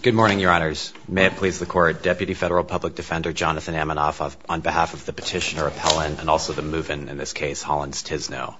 Good morning, Your Honors. May it please the Court, Deputy Federal Public Defender Jonathan Amanoff on behalf of the petitioner appellant and also the move-in in this case, Hollins Tizeno.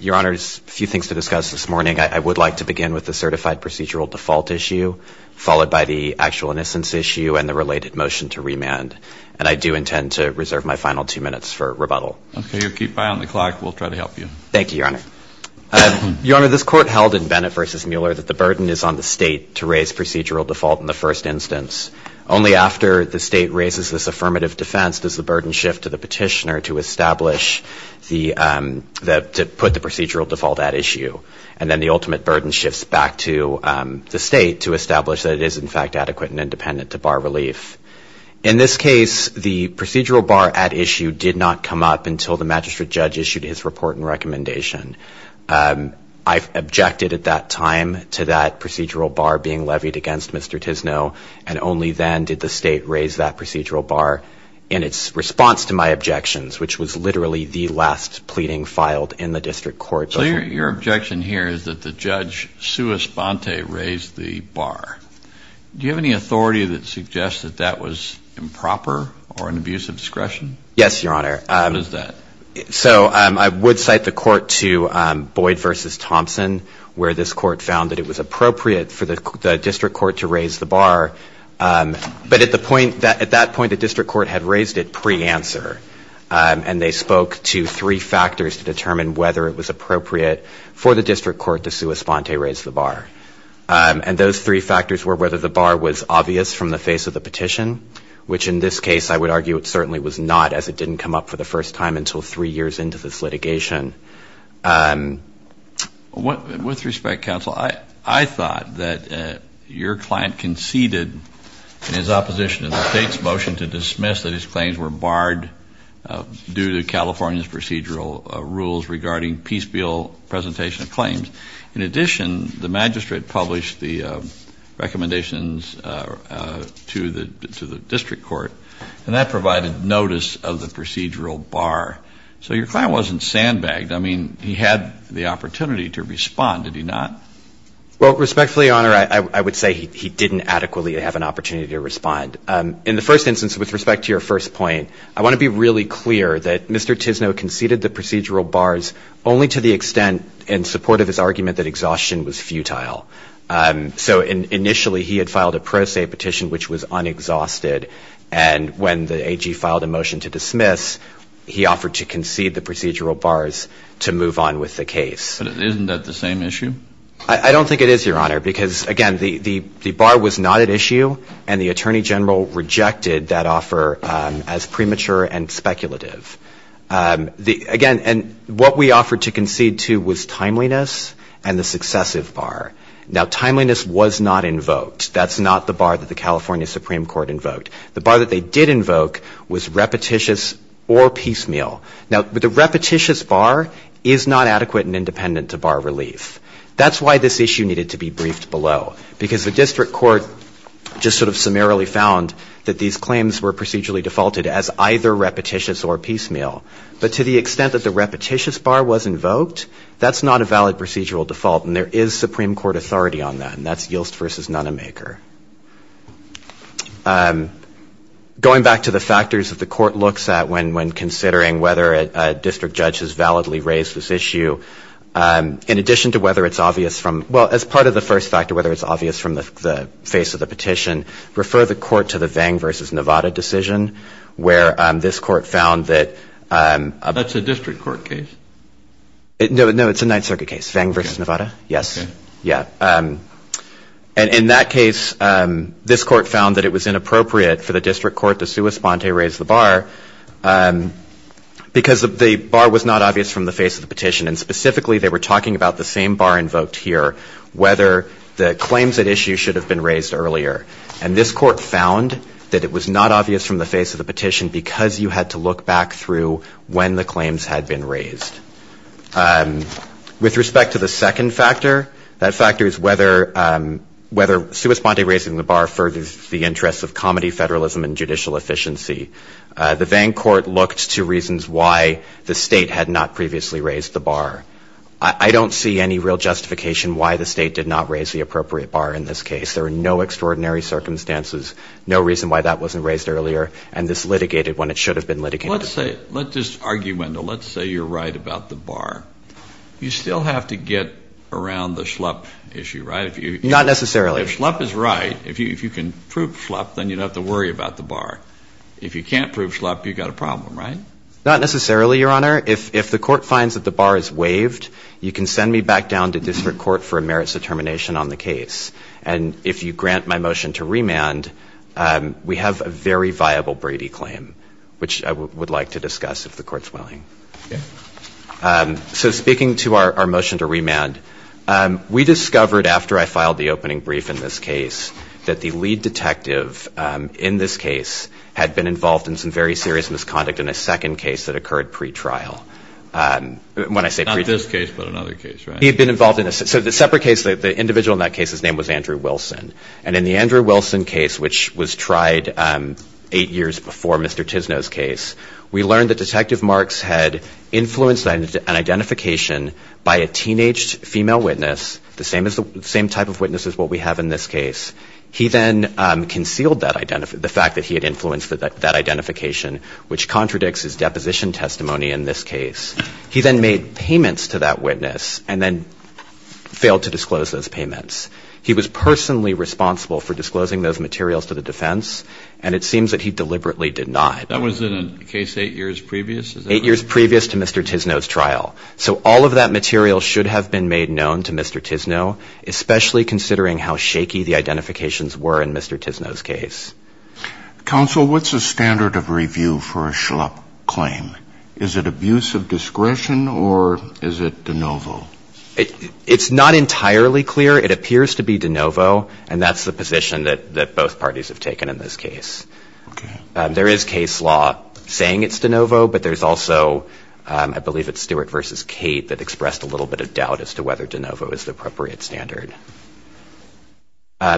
Your Honors, a few things to discuss this morning. I would like to begin with the certified procedural default issue, followed by the actual innocence issue and the related motion to remand. And I do intend to reserve my final two minutes for rebuttal. Okay, you keep eye on the clock. We'll try to help you. Thank you, Your Honor. Your Honor, this Court held in Bennett v. Mueller that the burden is on the State to raise procedural default in the first instance. Only after the State raises this affirmative defense does the burden shift to the petitioner to establish the, to put the procedural default at issue. And then the ultimate burden shifts back to the State to establish that it is, in fact, adequate and independent to bar relief. In this case, the procedural bar at issue did not come up until the magistrate judge issued his report and recommendation. I objected at that time to that procedural bar being levied against Mr. Tizeno, and only then did the State raise that procedural bar in its response to my objections, which was literally the last pleading filed in the District Court. So your objection here is that the judge, Sue Esponte, raised the bar. Do you have any evidence that that was improper or an abuse of discretion? Yes, Your Honor. What is that? So I would cite the Court to Boyd v. Thompson, where this Court found that it was appropriate for the District Court to raise the bar. But at the point, at that point the District Court had raised it pre-answer, and they spoke to three factors to determine whether it was appropriate for the District Court to Sue Esponte raise the bar. And those three factors were whether the bar was obvious from the face of the petition, which in this case I would argue it certainly was not, as it didn't come up for the first time until three years into this litigation. With respect, counsel, I thought that your client conceded in his opposition to the State's motion to dismiss that his claims were barred due to California's procedural rules regarding peace bill presentation of claims. In addition, the magistrate published the recommendations to the District Court, and that provided notice of the procedural bar. So your client wasn't sandbagged. I mean, he had the opportunity to respond, did he not? Well, respectfully, Your Honor, I would say he didn't adequately have an opportunity to respond. In the first instance, with respect to your first point, I want to be really clear that Mr. Tisno conceded the procedural bars only to the extent in support of his argument that exhaustion was futile. So initially he had filed a pro se petition which was unexhausted, and when the AG filed a motion to dismiss, he offered to concede the procedural bars to move on with the case. But isn't that the same issue? I don't think it is, Your Honor, because, again, the bar was not at issue, and the Attorney General rejected that offer as premature and speculative. Again, and what we offered to concede to was timeliness and the successive bar. Now, timeliness was not invoked. That's not the bar that the California Supreme Court invoked. The bar that they did invoke was repetitious or piecemeal. Now, the repetitious bar is not adequate and independent to bar relief. That's why this issue needed to be briefed below, because the District Court just sort of summarily found that these claims were procedurally defaulted as either repetitious or piecemeal. But to the extent that the repetitious bar was invoked, that's not a valid procedural default, and there is Supreme Court authority on that, and that's Yilst v. Nonemaker. Going back to the factors that the Court looks at when considering whether a District Judge has validly raised this issue, in addition to whether it's obvious from, well, as part of the first factor, whether it's obvious from the face of the petition, refer the Court to the Vang v. Nevada decision, where this Court found that... That's a District Court case. No, it's a Ninth Circuit case. Vang v. Nevada. Yes. Yeah. And in that case, this Court found that it was inappropriate for the District Court to sua sponte raise the bar, because the bar was not obvious from the face of the petition. And specifically, they were talking about the same bar invoked here, whether the claims at issue should have been raised earlier. And this Court found that it was not obvious from the face of the petition, because you had to look back through when the claims had been raised. With respect to the second factor, that factor is whether sua sponte raising the bar furthers the interests of comity, federalism, and judicial efficiency. The Vang court looked to reasons why the State had not previously raised the bar. I don't see any real justification why the State did not raise the appropriate bar in this case. There are no extraordinary circumstances, no reason why that wasn't raised earlier, and this litigated when it should have been litigated. Let's just argue, Wendell. Let's say you're right about the bar. You still have to get around the schlup issue, right? Not necessarily. If schlup is right, if you can prove schlup, then you don't have to worry about the bar. If you can't prove schlup, you've got a problem, right? Not necessarily, Your Honor. If the court finds that the bar is waived, you can send me back down to district court for a merits determination on the case. And if you grant my motion to remand, we have a very viable Brady claim, which I would like to discuss if the court's willing. So speaking to our motion to remand, we discovered after I filed the opening brief in this case that the lead detective in this case had been involved in some very serious misconduct in the second case that occurred pre-trial. Not this case, but another case, right? He had been involved in a separate case. The individual in that case's name was Andrew Wilson. And in the Andrew Wilson case, which was tried eight years before Mr. Tisno's case, we learned that Detective Marks had influenced an identification by a teenaged female witness, the same type of witness as what we have in this case. He then concealed the fact that he had influenced that identification, which contradicts his deposition testimony in this case. He then made payments to that witness, and then failed to disclose those payments. He was personally responsible for disclosing those materials to the defense, and it seems that he deliberately denied. That was in a case eight years previous? Eight years previous to Mr. Tisno's trial. So all of that material should have been made known to Mr. Tisno, especially considering how shaky the identifications were in Mr. Tisno's case. Counsel, what's the standard of review for a schlup claim? Is it abuse of discretion, or is it de novo? It's not entirely clear. It appears to be de novo, and that's the position that both parties have taken in this case. There is case law saying it's de novo, but there's also, I believe it's Stewart versus Kate that expressed a little bit of doubt as to whether de novo is the appropriate standard.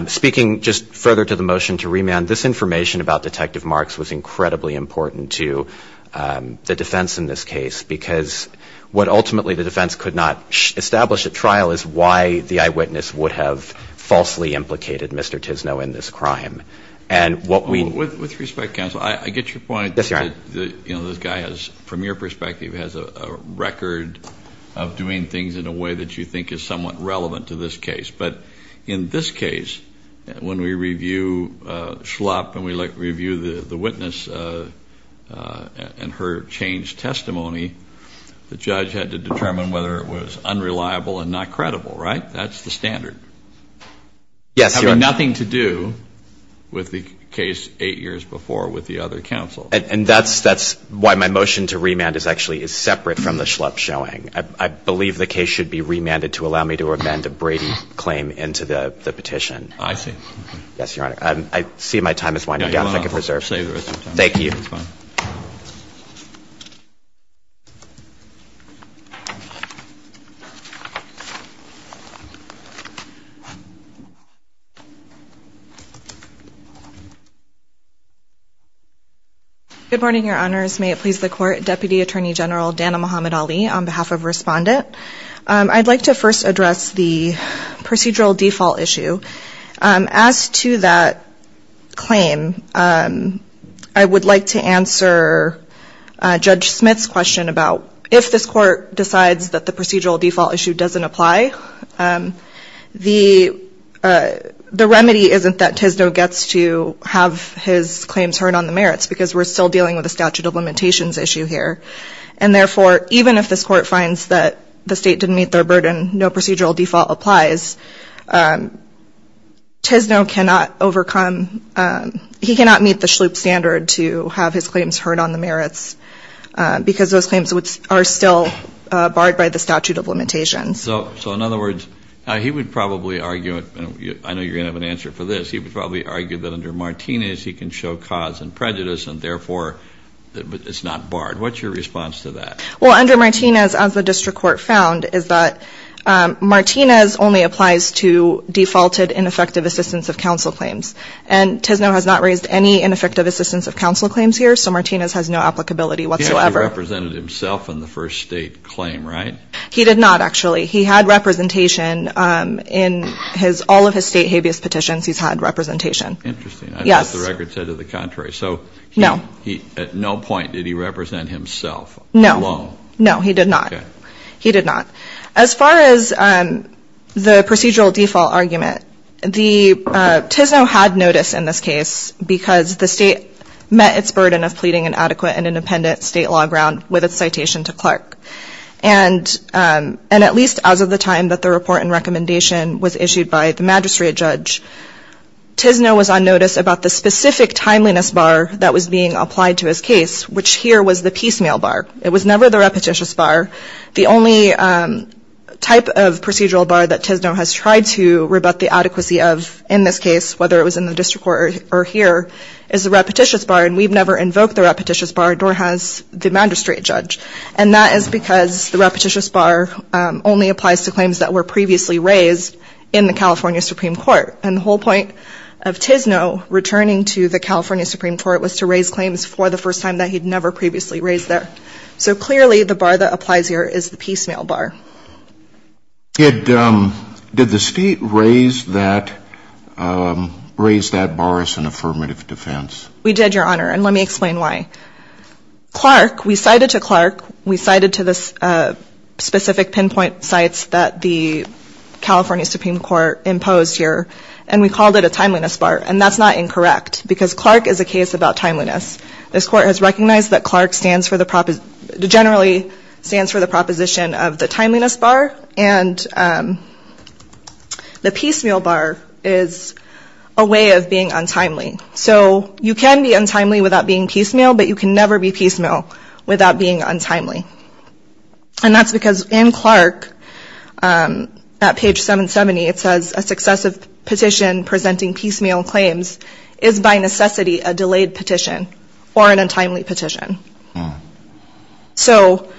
Speaking just further to the motion to remand, this information about Detective Marks was incredibly important to the defense in this case, because what ultimately the defense could not establish at trial is why the eyewitness would have falsely implicated Mr. Tisno in this crime. And what we With respect, counsel, I get your point that this guy, from your perspective, has a record of doing things in a way that you think is somewhat relevant to this case. But in this case, when we review schlup and we review the witness and her change testimony, the judge had to determine whether it was unreliable and not credible, right? That's the standard. Yes, Your Honor. Having nothing to do with the case eight years before with the other counsel. And that's why my motion to remand is actually separate from the schlup showing. I believe the case should be remanded to allow me to amend a Brady claim into the petition. I see. Yes, Your Honor. I see my time is winding down. If I could reserve. Thank you. Good morning, Your Honors. May it please the Court. Deputy Attorney General Dana Muhammad Ali on behalf of Respondent. I'd like to first address the procedural default issue. As to that claim, I would like to answer Judge Smith's question about if this Court decides that the procedural default issue doesn't apply, the remedy isn't that Tisno gets to have his claims heard on the merits. And therefore, even if this Court finds that the state didn't meet their burden, no procedural default applies, Tisno cannot overcome, he cannot meet the schlup standard to have his claims heard on the merits, because those claims are still barred by the statute of limitations. So in other words, he would probably argue, and I know you're going to have an answer for this, he would probably argue that under Martinez, he can show cause and prejudice and therefore it's not barred. What's your response to that? Well, under Martinez, as the District Court found, is that Martinez only applies to defaulted ineffective assistance of counsel claims. And Tisno has not raised any ineffective assistance of counsel claims here, so Martinez has no applicability whatsoever. He only represented himself in the first state claim, right? He did not, actually. He had representation in all of his state habeas petitions, he's had representation. Interesting. Yes. I thought the record said to the contrary. No. So at no point did he represent himself alone? No. No, he did not. He did not. As far as the procedural default argument, Tisno had notice in this case because the state met its burden of pleading an adequate and independent state law ground with its citation to Clark. And at least as of the time that the report and recommendation was issued by the magistrate judge, Tisno was on notice about the specific timeliness bar that was being applied to his case, which here was the piecemeal bar. It was never the repetitious bar. The only type of procedural bar that Tisno has tried to rebut the adequacy of in this case, whether it was in the District Court or here, is the repetitious bar, and we've never invoked the repetitious bar, nor has the magistrate judge. And that is because the repetitious bar only applies to claims that were previously raised in the California Supreme Court. And the whole point of Tisno returning to the California Supreme Court was to raise claims for the first time that he'd never previously raised there. So clearly the bar that applies here is the piecemeal bar. Did the state raise that bar as an affirmative defense? We did, Your Honor, and let me explain why. Clark, we cited to Clark, we cited to the specific pinpoint sites that the California Supreme Court imposed here, and we called it a timeliness bar, and that's not incorrect, because Clark is a case about timeliness. This Court has recognized that Clark generally stands for the proposition of the timeliness bar, and the piecemeal bar is a way of being untimely. So you can't have a piecemeal bar and you can be untimely without being piecemeal, but you can never be piecemeal without being untimely. And that's because in Clark, at page 770, it says a successive petition presenting piecemeal claims is by necessity a delayed petition or an untimely petition. So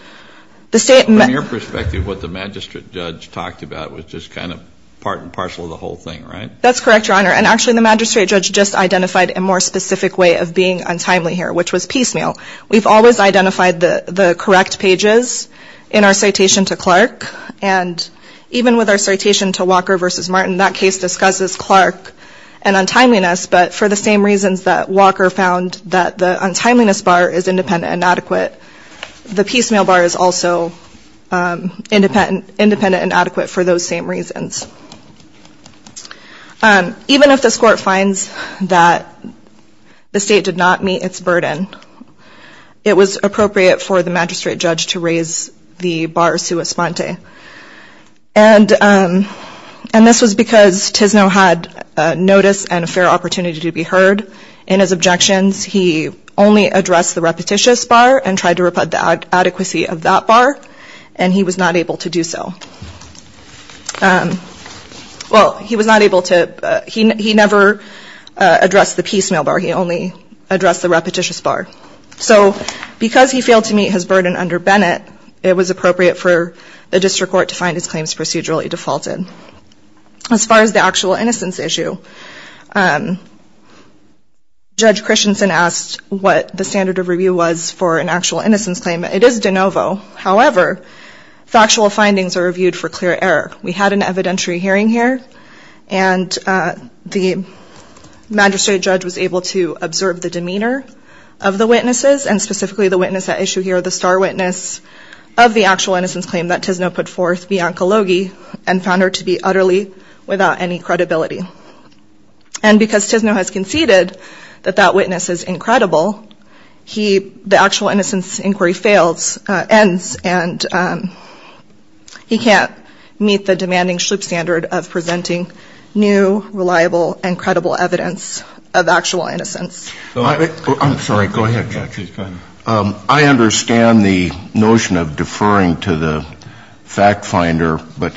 the state... From your perspective, what the magistrate judge talked about was just kind of part and parcel of the whole thing, right? That's correct, Your Honor, and actually the magistrate judge just identified a more specific way of being untimely here, which was piecemeal. We've always identified the correct pages in our citation to Clark, and even with our citation to Walker v. Martin, that case discusses Clark and untimeliness, but for the same reasons that Walker found that the untimeliness bar is independent and adequate, the piecemeal bar is also independent and adequate for those same reasons. Even if this court finds that the state did not meet its burden, it was appropriate for the magistrate judge to raise the bar sua sponte, and this was because Tisno had notice and a fair opportunity to be heard. In his objections, he only addressed the repetitious bar and tried to repudiate the adequacy of that bar, and he was not able to do so. Well, he was not able to, he never addressed the piecemeal bar. He only addressed the repetitious bar, so because he failed to meet his burden under Bennett, it was appropriate for the district court to find his claims procedurally defaulted. As far as the actual innocence issue, Judge Christensen asked what the standard of review was for an actual innocence claim. It is de novo, however, factual findings are reviewed for clear error. We had an evidentiary hearing here, and the magistrate judge was able to observe the demeanor of the witnesses, and specifically the witness at issue here, the star witness of the actual innocence claim that Tisno put forth, Bianca Logie, and found her to be utterly without any credibility. And because Tisno has conceded that that witness is incredible, he, the actual innocence inquiry fails, ends, and he can't meet the demanding schlup standard of presenting new, reliable, and credible evidence of actual innocence. I'm sorry, go ahead, Judge. I understand the notion of deferring to the fact finder, but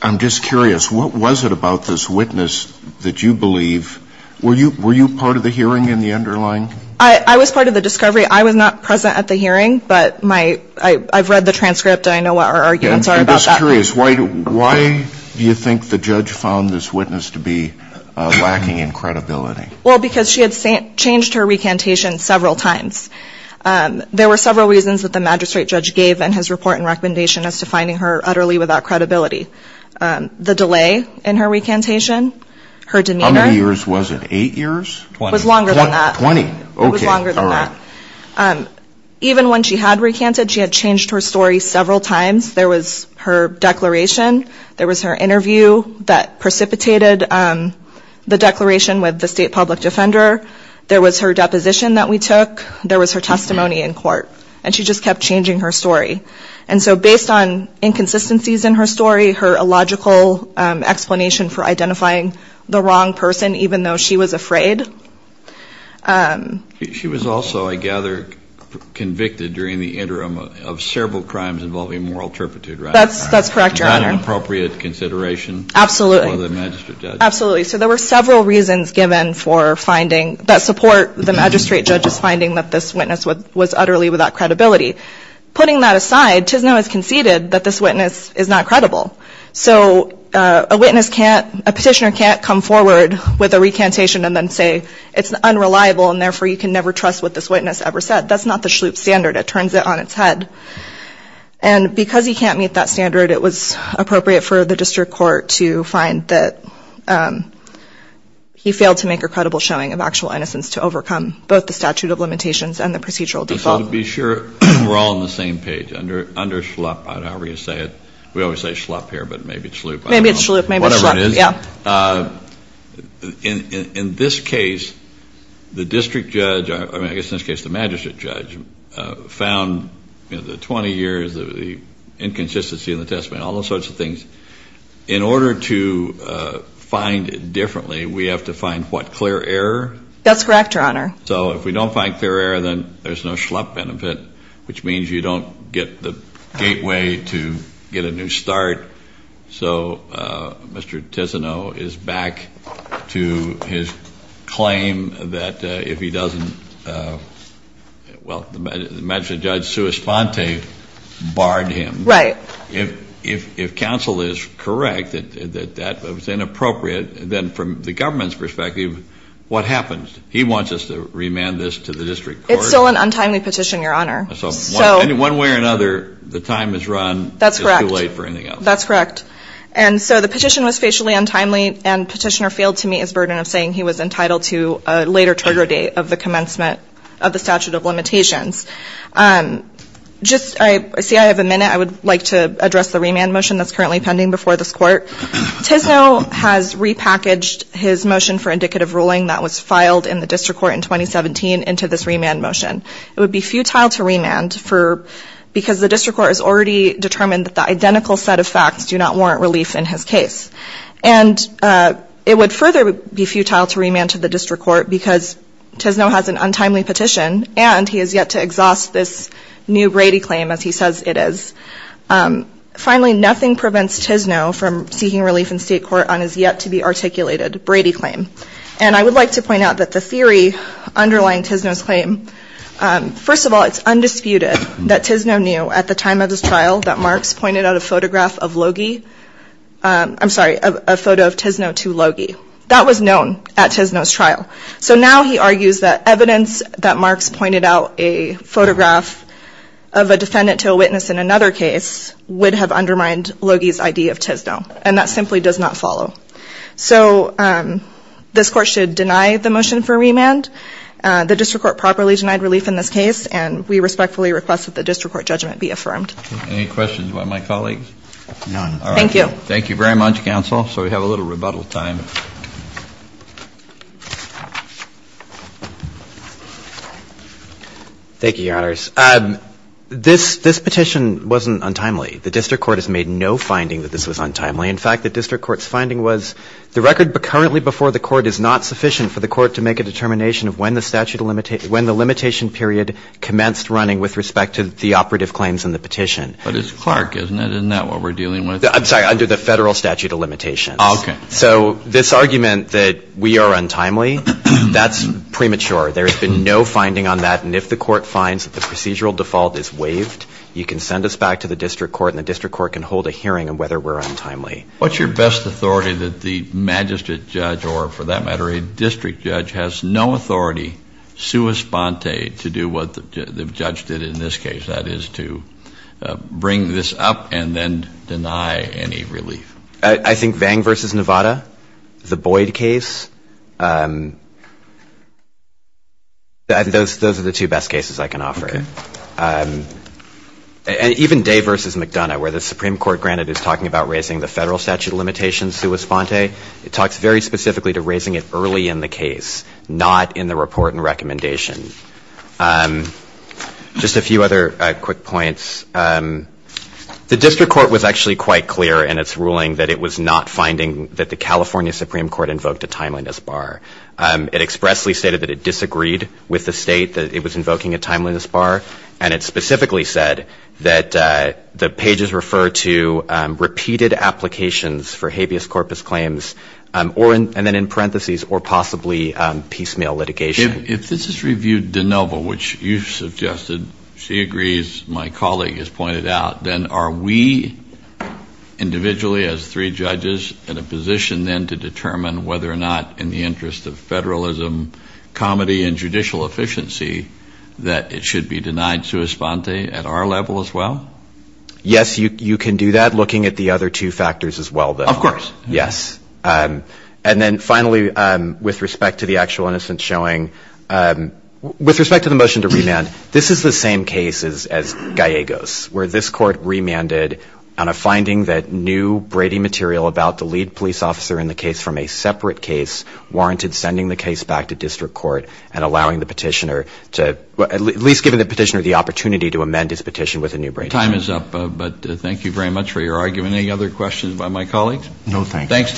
I'm just curious, what was it about this witness that you believe, were you part of the hearing in the underlying? I was part of the discovery. I was not present at the hearing, but I've read the transcript, and I know what our arguments are about that. I'm just curious, why do you think the judge found this witness to be lacking in credibility? Well, because she had changed her recantation several times. There were several reasons that the magistrate judge gave in his report and recommendation as to finding her utterly without credibility. The delay in her recantation, her demeanor. How many years was it, eight years? It was longer than that. Even when she had recanted, she had changed her story several times. There was her declaration, there was her interview that precipitated the declaration with the state public defender. There was her deposition that we took. There was her testimony in court. And she just kept changing her story. And so based on inconsistencies in her story, her illogical explanation for identifying the wrong person, even though she was afraid. She was also, I gather, convicted during the interim of several crimes involving moral turpitude, right? That's correct, Your Honor. Was there not an appropriate consideration for the magistrate judge? Absolutely. So there were several reasons given for finding, that support the magistrate judge's finding that this witness was utterly without credibility. Putting that aside, Tisnow has conceded that this witness is not credible. So a witness can't, a petitioner can't come forward with a recantation and then say it's unreliable and therefore you can never trust what this witness ever said. That's not the SHLUP standard. It turns it on its head. And because he can't meet that standard, it was appropriate for the district court to find that he failed to make a credible showing of actual innocence to overcome both the statute of limitations and the procedural default. So to be sure we're all on the same page, under SHLUP, however you say it, we always say SHLUP here, but maybe it's SHLUP. Maybe it's SHLUP. Whatever it is. In this case, the district judge, I guess in this case the magistrate judge, found the 20 years, the inconsistency in the testimony, all those sorts of things. In order to find it differently, we have to find what, clear error? That's correct, Your Honor. So if we don't find clear error, then there's no SHLUP benefit, which means you don't get the gateway to get a new start. So Mr. Tissonneau is back to his claim that if he doesn't, well, the magistrate judge, Sue Esponte, barred him. Right. If counsel is correct that that was inappropriate, then from the government's perspective, what happens? He wants us to remand this to the district court. It's still an untimely petition, Your Honor. One way or another, the time has run, it's too late for anything else. That's correct. And so the petition was facially untimely, and petitioner failed to meet his burden of saying he was entitled to a later trigger date of the commencement of the statute of limitations. Just, I see I have a minute, I would like to address the remand motion that's currently pending before this court. Tissonneau has repackaged his motion for indicative ruling that was filed in the district court in 2017 into this remand motion. It would be futile to remand because the district court has already determined that the identical set of facts do not warrant relief in his case. And it would further be futile to remand to the district court because Tissonneau has an untimely petition, and he has yet to exhaust this new Brady claim as he says it is. Finally, nothing prevents Tissonneau from seeking relief in state court on his yet-to-be-articulated Brady claim. And I would like to point out that the theory underlying Tissonneau's claim, first of all, it's undisputed that Tissonneau knew at the time of his trial that Marks pointed out a photograph of Logie, I'm sorry, a photo of Tissonneau to Logie. So now he argues that evidence that Marks pointed out a photograph of a defendant to a witness in another case would have undermined Logie's idea of Tissonneau. And that simply does not follow. So this court should deny the motion for remand. The district court properly denied relief in this case, and we respectfully request that the district court judgment be affirmed. Any questions by my colleagues? None. Thank you. Thank you very much, counsel. So we have a little rebuttal time. Thank you, Your Honors. This petition wasn't untimely. The district court has made no finding that this was untimely. In fact, the district court's finding was the record currently before the court is not sufficient for the court to make a determination of when the statute of limitations, when the limitation period commenced running with respect to the operative claims in the petition. But it's Clark, isn't it? Isn't that what we're dealing with? I'm sorry, under the federal statute of limitations. Okay. So this argument that we are untimely, that's premature. There has been no finding on that. And if the court finds that the procedural default is waived, you can send us back to the district court, and the district court can hold a hearing on whether we're untimely. What's your best authority that the magistrate judge or, for that matter, a district judge has no authority sui sponte to do what the judge did in this case, that is, to bring this up and then deny any relief? I think Vang v. Nevada, the Boyd case, those are the two best cases I can offer. And even Day v. McDonough, where the Supreme Court, granted, is talking about raising the federal statute of limitations sui sponte, it talks very specifically to raising it early in the case, not in the report and recommendation. Just a few other quick points. The district court was actually quite clear in its ruling that it was not finding that the California Supreme Court invoked a timeliness bar. It expressly stated that it disagreed with the state that it was invoking a timeliness bar. And it specifically said that the pages refer to repeated applications for habeas corpus claims, and then in parentheses, or possibly piecemeal litigation. If this is reviewed de novo, which you suggested, she agrees, my colleague has pointed out, then are we individually, as three judges, in a position then to determine whether or not, in the interest of federalism, comedy and judicial efficiency, that it should be denied sui sponte at our level as well? Yes, you can do that, looking at the other two factors as well. Yes. And then finally, with respect to the actual innocence showing, with respect to the motion to remand, this is the same case as Gallegos, where this court remanded on a finding that new Brady material about the lead police officer in the case from a separate case warranted sending the case back to district court and allowing the petitioner to, at least giving the petitioner the opportunity to amend his petition with a new Brady material. Okay, time is up, but thank you very much for your argument. Any other questions by my colleagues? No, thanks.